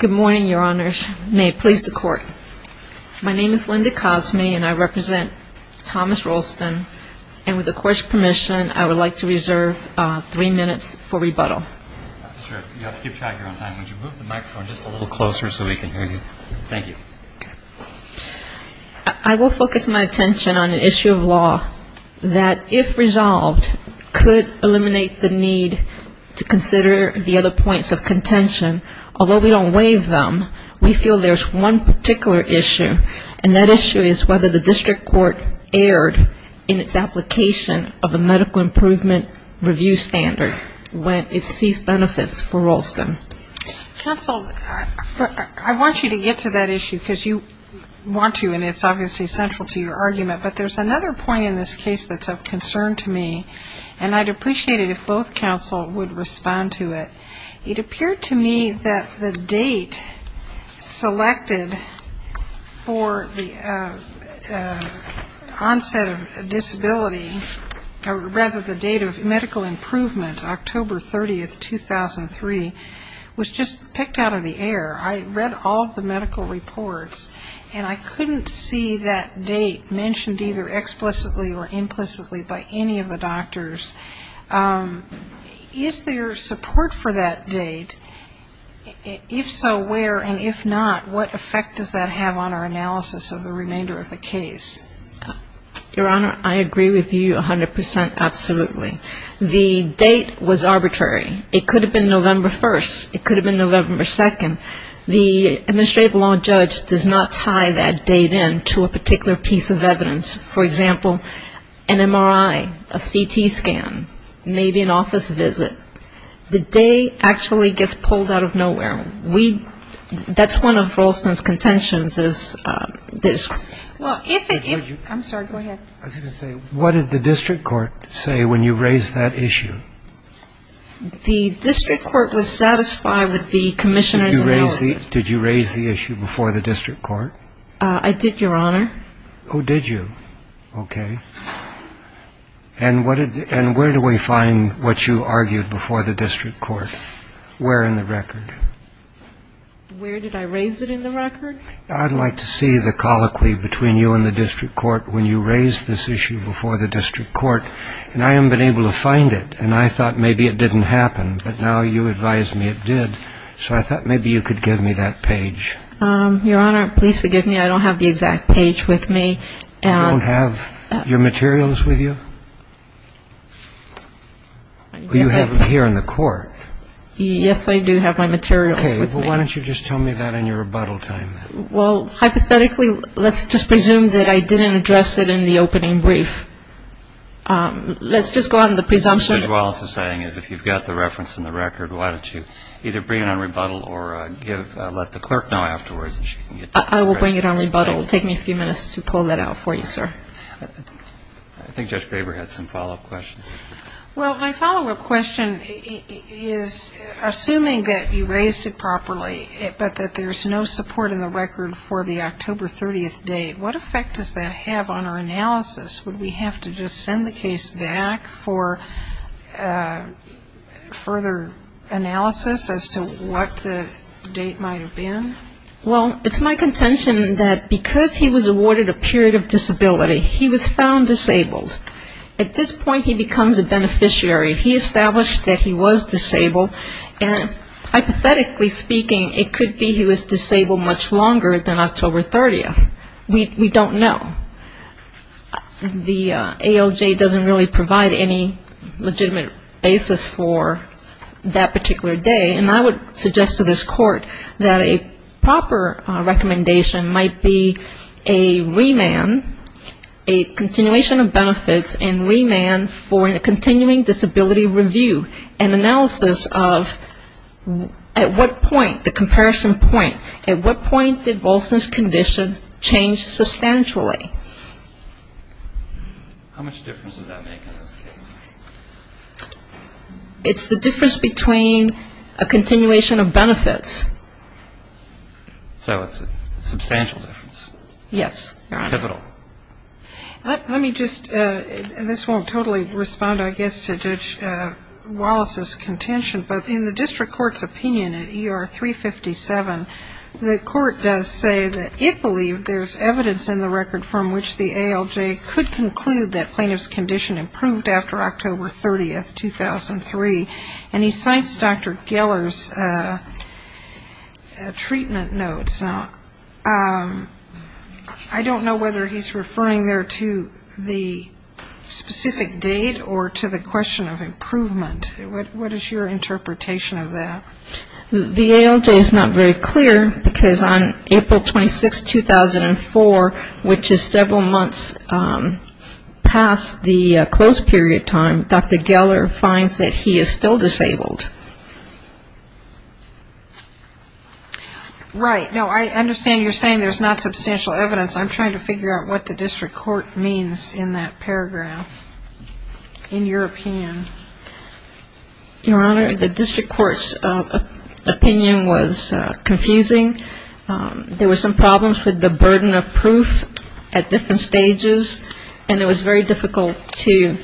Good morning, Your Honors. May it please the Court. My name is Linda Cosme and I represent Thomas Rolston. And with the Court's permission, I would like to reserve three minutes for rebuttal. Officer, you have to keep track of your own time. Would you move the microphone just a little closer so we can hear you? Thank you. I will focus my attention on an issue of law that, if resolved, could eliminate the need to consider the other points of contention. Although we don't waive them, we feel there's one particular issue, and that issue is whether the district court erred in its application of a medical improvement review standard when it sees benefits for Rolston. Counsel, I want you to get to that issue because you want to, and it's obviously central to your argument. But there's another point in this case that's of concern to me, and I'd appreciate it if both counsel would respond to it. It appeared to me that the date selected for the onset of disability, or rather the date of medical improvement, October 30, 2003, was just picked out of the air. I read all of the medical reports, and I couldn't see that date mentioned either explicitly or implicitly by any of the doctors. Is there support for that date? If so, where, and if not, what effect does that have on our analysis of the remainder of the case? Your Honor, I agree with you 100% absolutely. The date was arbitrary. It could have been November 1st. It could have been November 2nd. The administrative law judge does not tie that date in to a particular piece of evidence. For example, an MRI, a CT scan, maybe an office visit. The day actually gets pulled out of nowhere. That's one of Ralston's contentions is this. I'm sorry, go ahead. I was going to say, what did the district court say when you raised that issue? The district court was satisfied with the commissioner's analysis. Did you raise the issue before the district court? I did, Your Honor. Oh, did you? Okay. And where do we find what you argued before the district court? Where in the record? Where did I raise it in the record? I'd like to see the colloquy between you and the district court when you raised this issue before the district court, and I haven't been able to find it, and I thought maybe it didn't happen, but now you advise me it did. So I thought maybe you could give me that page. Your Honor, please forgive me. I don't have the exact page with me. You don't have your materials with you? You have them here in the court. Yes, I do have my materials with me. Okay. Well, why don't you just tell me that in your rebuttal time then? Well, hypothetically, let's just presume that I didn't address it in the opening brief. Let's just go out on the presumption. What you're also saying is if you've got the reference in the record, why don't you either bring it on rebuttal or let the clerk know afterwards and she can get to it. I will bring it on rebuttal. It will take me a few minutes to pull that out for you, sir. I think Judge Graber had some follow-up questions. Well, my follow-up question is, assuming that you raised it properly, but that there's no support in the record for the October 30th date, what effect does that have on our analysis? Would we have to just send the case back for further analysis as to what the date might have been? Well, it's my contention that because he was awarded a period of disability, he was found disabled. At this point, he becomes a beneficiary. He established that he was disabled. And hypothetically speaking, it could be he was disabled much longer than October 30th. We don't know. The ALJ doesn't really provide any legitimate basis for that particular day. And I would suggest to this Court that a proper recommendation might be a remand, a continuation of benefits and remand for a continuing disability review and analysis of at what point, the comparison point, at what point did Volson's condition change substantially? How much difference does that make in this case? It's the difference between a continuation of benefits. So it's a substantial difference. Yes. Pivotal. Let me just, this won't totally respond, I guess, to Judge Wallace's contention, but in the district court's opinion at ER 357, the court does say that it believed there's evidence in the record from which the ALJ could conclude that plaintiff's condition improved after October 30th, 2003. And he cites Dr. Geller's treatment notes. Now, I don't know whether he's referring there to the specific date or to the question of improvement. What is your interpretation of that? The ALJ is not very clear because on April 26, 2004, which is several months past the close period time, Dr. Geller finds that he is still disabled. Right. No, I understand you're saying there's not substantial evidence. I'm trying to figure out what the district court means in that paragraph, in your opinion. Your Honor, the district court's opinion was confusing. There were some problems with the burden of proof at different stages, and it was very difficult to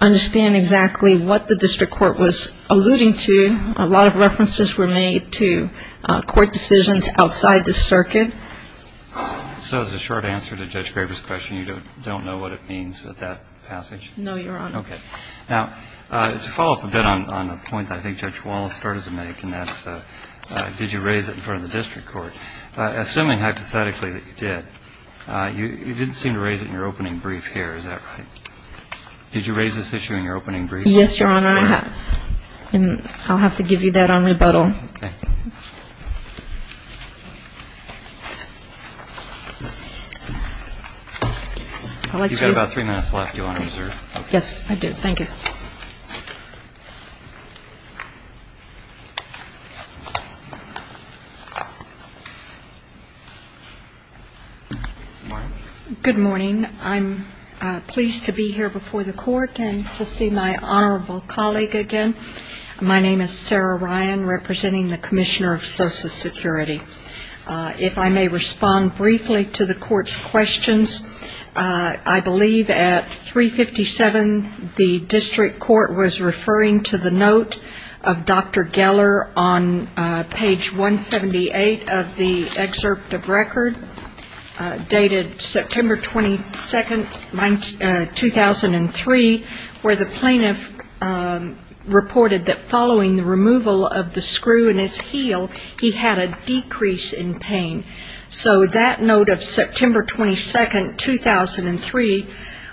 understand exactly what the district court was alluding to. A lot of references were made to court decisions outside the circuit. So as a short answer to Judge Graber's question, you don't know what it means at that passage? No, Your Honor. Okay. Now, to follow up a bit on the point that I think Judge Wallace started to make, and that's did you raise it in front of the district court, assuming hypothetically that you did, you didn't seem to raise it in your opening brief here. Is that right? Did you raise this issue in your opening brief? Yes, Your Honor. And I'll have to give you that on rebuttal. Okay. You've got about three minutes left, Your Honor. Yes, I do. Thank you. Good morning. I'm pleased to be here before the court and to see my honorable colleague again. My name is Sarah Ryan, representing the Commissioner of Social Security. If I may respond briefly to the court's questions, I believe at 357 the district court was referring to the note of Dr. Geller on page 178 of the excerpt of record, dated September 22, 2003, where the plaintiff reported that following the removal of the screw in his heel, he had a decrease in pain. So that note of September 22, 2003,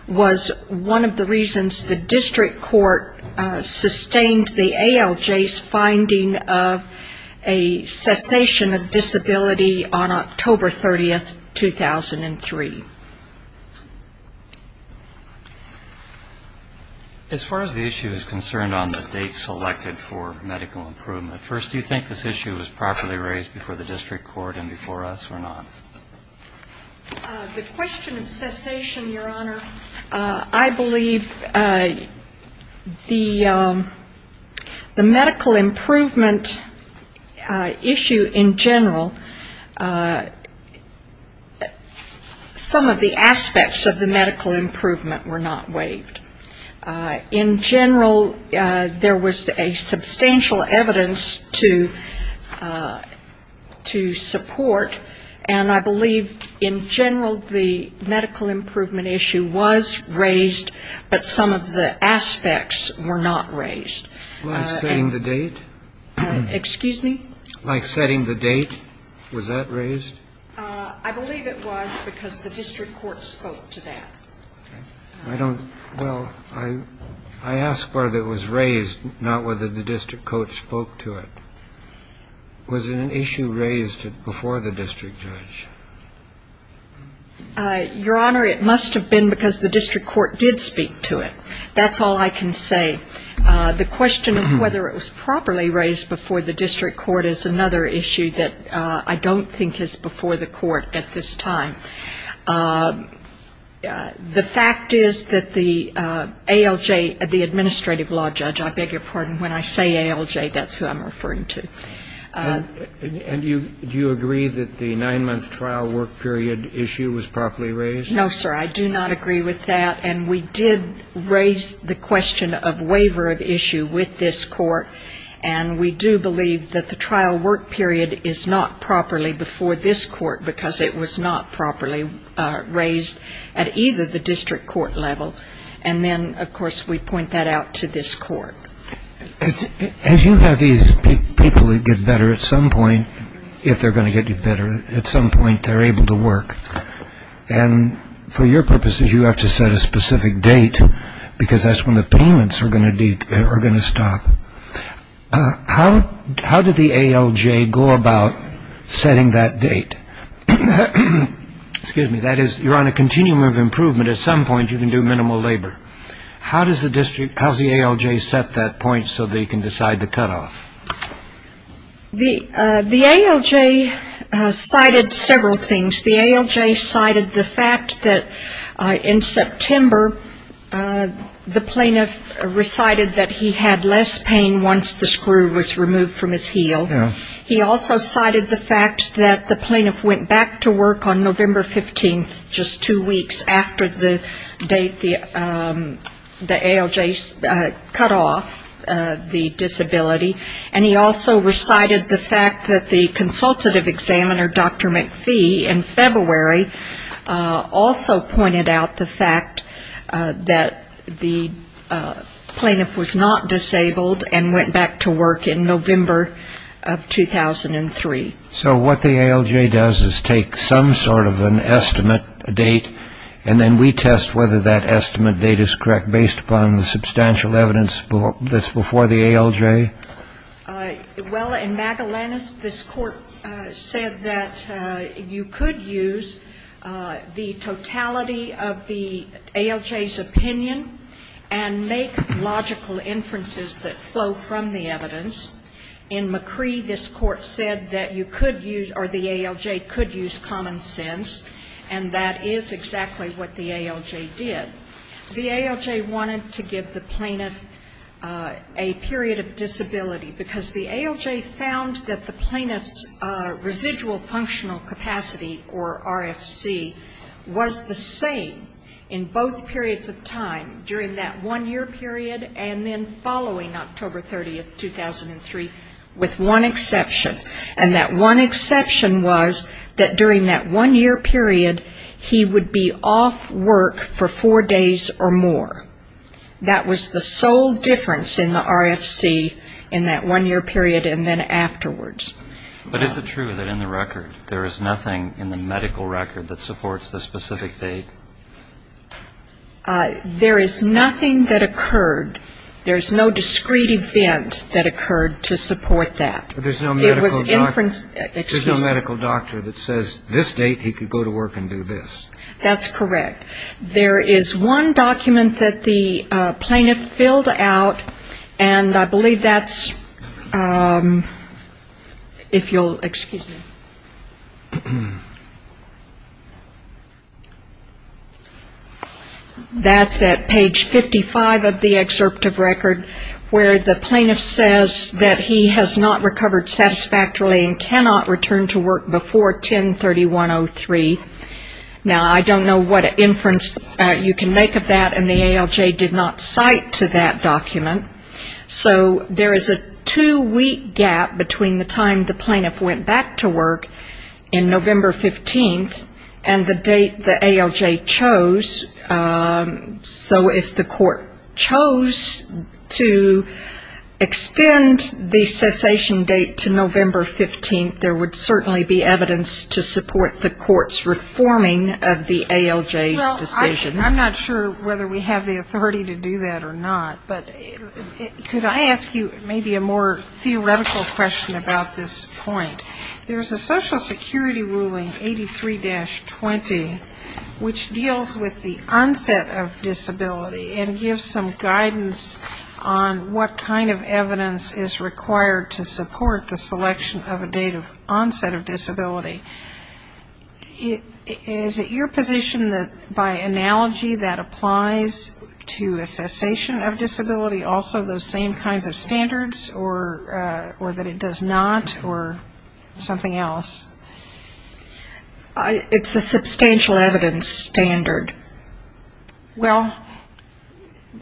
was one of the reasons the district court sustained the ALJ's finding of a cessation of disability on October 30, 2003. As far as the issue is concerned on the date selected for medical improvement, first, do you think this issue was properly raised before the district court and before us or not? The question of cessation, Your Honor, I believe the medical improvement issue in general, some of the aspects of the medical improvement were not waived. In general, there was a substantial evidence to support, and I believe in general the medical improvement issue was raised, but some of the aspects were not raised. Like setting the date? Excuse me? Like setting the date, was that raised? I believe it was because the district court spoke to that. Well, I ask whether it was raised, not whether the district court spoke to it. Was it an issue raised before the district judge? Your Honor, it must have been because the district court did speak to it. That's all I can say. The question of whether it was properly raised before the district court is another issue that I don't think is before the court at this time. The fact is that the ALJ, the administrative law judge, I beg your pardon, when I say ALJ, that's who I'm referring to. And do you agree that the nine-month trial work period issue was properly raised? No, sir, I do not agree with that. And we did raise the question of waiver of issue with this court, and we do believe that the trial work period is not properly before this court, because it was not properly raised at either the district court level. And then, of course, we point that out to this court. As you have these people that get better at some point, if they're going to get better at some point, they're able to work. And for your purposes, you have to set a specific date, because that's when the payments are going to stop. How did the ALJ go about setting that date? Excuse me. That is, you're on a continuum of improvement. At some point, you can do minimal labor. How does the district ALJ set that point so that you can decide the cutoff? The ALJ cited several things. The ALJ cited the fact that in September, the plaintiff recited that he had less pain once the screw was removed from his heel. He also cited the fact that the plaintiff went back to work on November 15th, just two weeks after the date the ALJ cut off the disability. And he also recited the fact that the consultative examiner, Dr. McPhee, in February, also pointed out the fact that the plaintiff was not disabled and went back to work in November of 2003. So what the ALJ does is take some sort of an estimate date, and then we test whether that estimate date is correct based upon the substantial evidence that's before the ALJ. Well, in Magellanes, this Court said that you could use the totality of the ALJ's opinion and make logical inferences that flow from the evidence. In McCree, this Court said that you could use or the ALJ could use common sense, and that is exactly what the ALJ did. The ALJ wanted to give the plaintiff a period of disability, because the ALJ found that the plaintiff's residual functional capacity, or RFC, was the same in both periods of time, during that one-year period and then following October 30th, 2003, with one exception. And that one exception was that during that one-year period, he would be off work for four days or more. That was the sole difference in the RFC in that one-year period and then afterwards. But is it true that in the record there is nothing in the medical record that supports the specific date? There is nothing that occurred. There's no discrete event that occurred to support that. There's no medical doctor that says this date he could go to work and do this. That's correct. There is one document that the plaintiff filled out, and I believe that's, if you'll excuse me, that's at page 55 of the excerpt of record, where the plaintiff says that he has not recovered satisfactorily and cannot return to work before 10-31-03. Now, I don't know what inference you can make of that, and the ALJ did not cite to that document. So there is a two-week gap between the time the plaintiff went back to work in November 15th and the date the ALJ chose. So if the court chose to extend the cessation date to November 15th, there would certainly be evidence to support the court's reforming of the ALJ's decision. Well, I'm not sure whether we have the authority to do that or not, but could I ask you maybe a more theoretical question about this point? There's a Social Security ruling, 83-20, which deals with the onset of disability and gives some guidance on what kind of evidence is required to support the selection of a date of onset of disability. Is it your position that by analogy that applies to a cessation of disability, also those same kinds of standards, or that it does not, or something else? It's a substantial evidence standard. Well,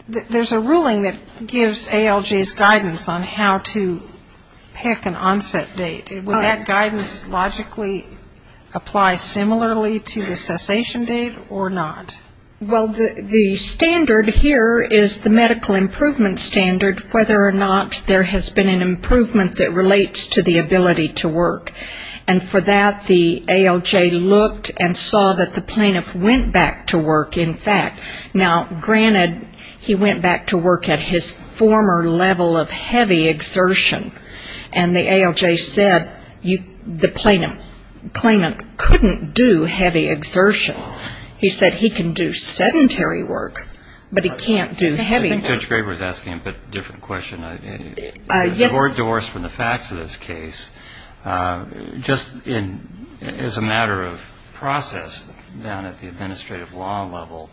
there's a ruling that gives ALJ's guidance on how to pick an onset date. Would that guidance logically apply similarly to the cessation date or not? Well, the standard here is the medical improvement standard, whether or not there has been an improvement that relates to the ability to work. And for that, the ALJ looked and saw that the plaintiff went back to work, in fact. Now, granted, he went back to work at his former level of heavy exertion, and the ALJ said the plaintiff couldn't do heavy exertion. He said he can do sedentary work, but he can't do heavy work. I think Judge Graber is asking a bit of a different question. Yes. Four doors from the facts of this case. Just as a matter of process down at the administrative law level,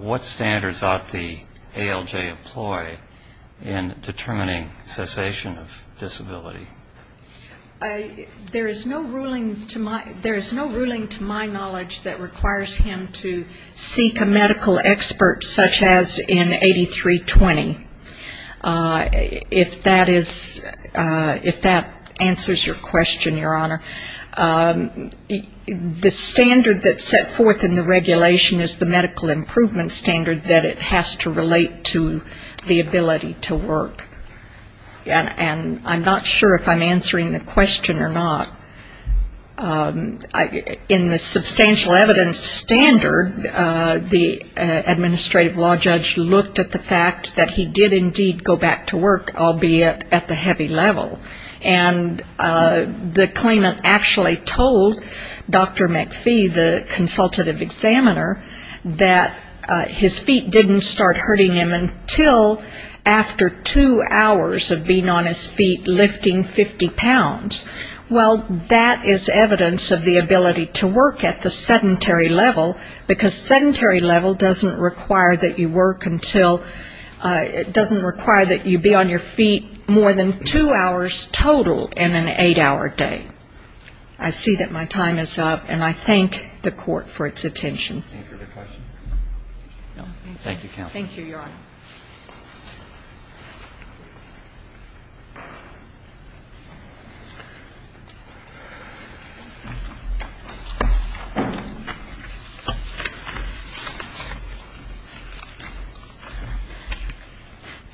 what standards ought the ALJ to employ in determining cessation of disability? There is no ruling to my knowledge that requires him to seek a medical expert such as in 8320. If that is ‑‑ if that answers your question, Your Honor, the standard that's set forth in the regulation is the medical improvement standard that it has to relate to the ability to work. And I'm not sure if I'm answering the question or not. In the substantial evidence standard, the administrative law judge looked at the fact that he did indeed go back to work, albeit at the heavy level. And the claimant actually told Dr. McPhee, the consultative examiner, that his feet didn't start hurting him until after two hours of being on his feet lifting 50 pounds. Well, that is evidence of the ability to work at the sedentary level, because sedentary level doesn't require that you work until ‑‑ it doesn't require that you be on your feet more than two hours total in an eight‑hour day. I see that my time is up, and I thank the Court for its attention. Thank you, Counsel. Thank you, Your Honor.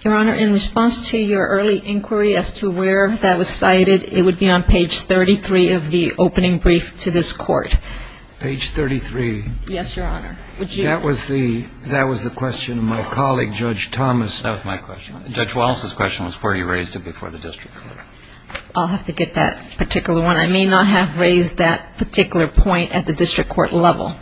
Your Honor, in response to your early inquiry as to where that was cited, it would be on page 33 of the opening brief to this Court. Page 33. Yes, Your Honor. That was my question. Judge Wallace's question was where you raised it before the district court. I'll have to get that particular one. I may not have raised that particular point at the district court level.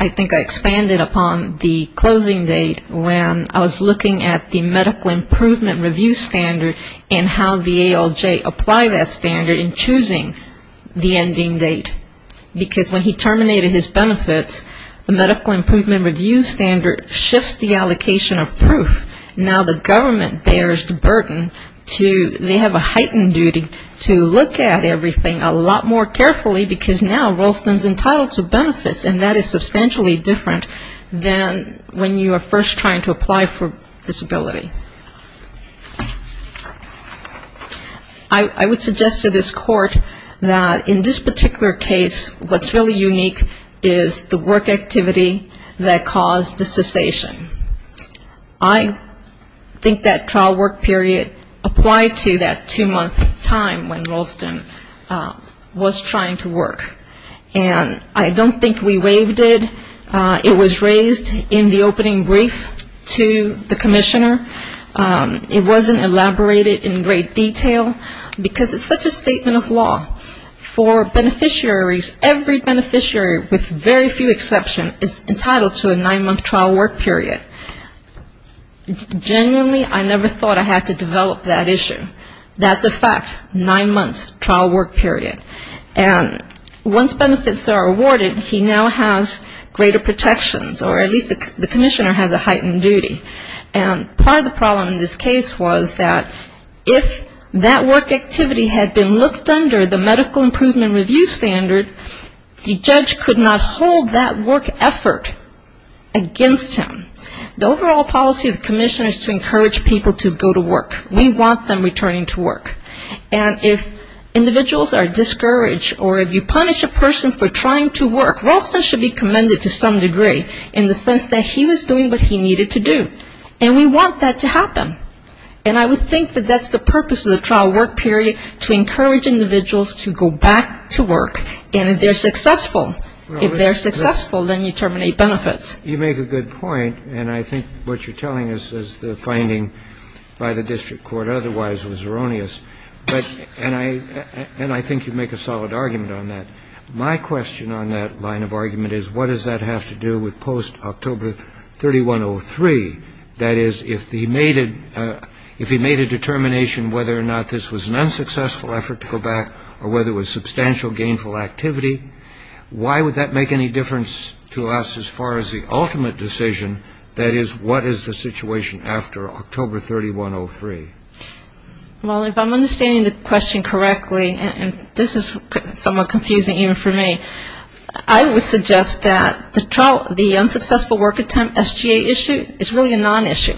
I think I expanded upon the closing date when I was looking at the medical improvement review standard and how the ALJ applied that standard in choosing the ending date. Because when he terminated his benefits, the medical improvement review standard shifts the allocation of proof. Now the government bears the burden to ‑‑ they have a heightened duty to look at everything a lot more carefully, because now Ralston is entitled to benefits, and that is substantially different than when you are first trying to apply for disability. I would suggest to this Court that in this particular case, what's really unique is the work activity that caused the cessation. I think that trial work period applied to that two‑month time when Ralston was trying to work. And I don't think we waived it. It was raised in the opening brief to the commissioner. It wasn't elaborated in great detail, because it's such a statement of law for beneficiaries. Every beneficiary, with very few exceptions, is entitled to a nine‑month trial work period. Genuinely, I never thought I had to develop that issue. That's a fact, nine months trial work period. And once benefits are awarded, he now has greater protections, or at least the commissioner has a heightened duty. And part of the problem in this case was that if that work activity had been looked under the medical improvement review standard, the judge could not hold that work effort against him. The overall policy of the commissioner is to encourage people to go to work. We want them returning to work. And if individuals are discouraged or if you punish a person for trying to work, Ralston should be commended to some degree in the sense that he was doing what he needed to do. And we want that to happen. And I would think that that's the purpose of the trial work period, to encourage individuals to go back to work. And if they're successful, if they're successful, then you terminate benefits. You make a good point, and I think what you're telling us is the finding by the district court otherwise was erroneous. And I think you make a solid argument on that. My question on that line of argument is what does that have to do with post-October 3103? That is, if he made a determination whether or not this was an unsuccessful effort to go back or whether it was substantial gainful activity, why would that make any difference to us as far as the ultimate decision? That is, what is the situation after October 3103? Well, if I'm understanding the question correctly, and this is somewhat confusing even for me, I would suggest that the unsuccessful work attempt SGA issue is really a non-issue.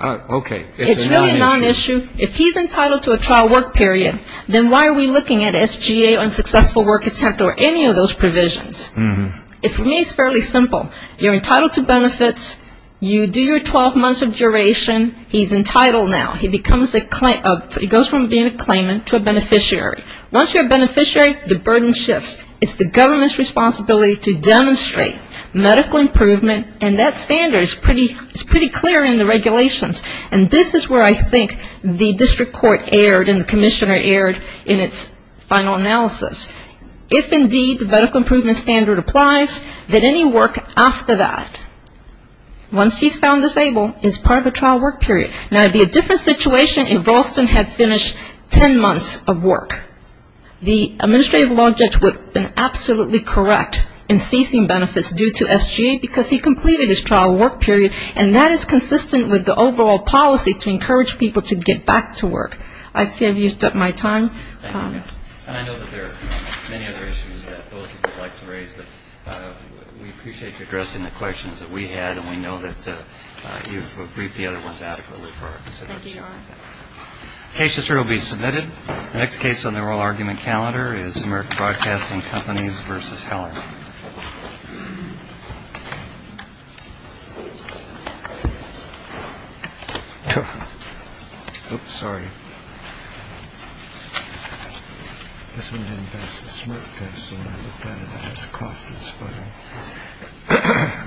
It's really a non-issue. If he's entitled to a trial work period, then why are we looking at SGA, unsuccessful work attempt, or any of those provisions? For me, it's fairly simple. You're entitled to benefits, you do your 12 months of duration, he's entitled now. He goes from being a claimant to a beneficiary. Once you're a beneficiary, the burden shifts. It's the government's responsibility to demonstrate medical improvement, and that standard is pretty clear in the regulations. And this is where I think the district court erred and the commissioner erred in its final analysis. If indeed the medical improvement standard applies, then any work after that, once he's found disabled, is part of a trial work period. Now, it would be a different situation if Ralston had finished 10 months of work. The administrative law judge would have been absolutely correct in seizing benefits due to SGA because he completed his trial work period, and that is consistent with the overall policy to encourage people to get back to work. I see I've used up my time. And I know that there are many other issues that both of you would like to raise, but we appreciate you addressing the questions that we had, and we know that you've briefed the other ones adequately for our consideration. The case history will be submitted. The next case on the oral argument calendar is American Broadcasting Companies v. Heller. This one didn't pass the SMART test, so now it looks like it has coughed and sputtered.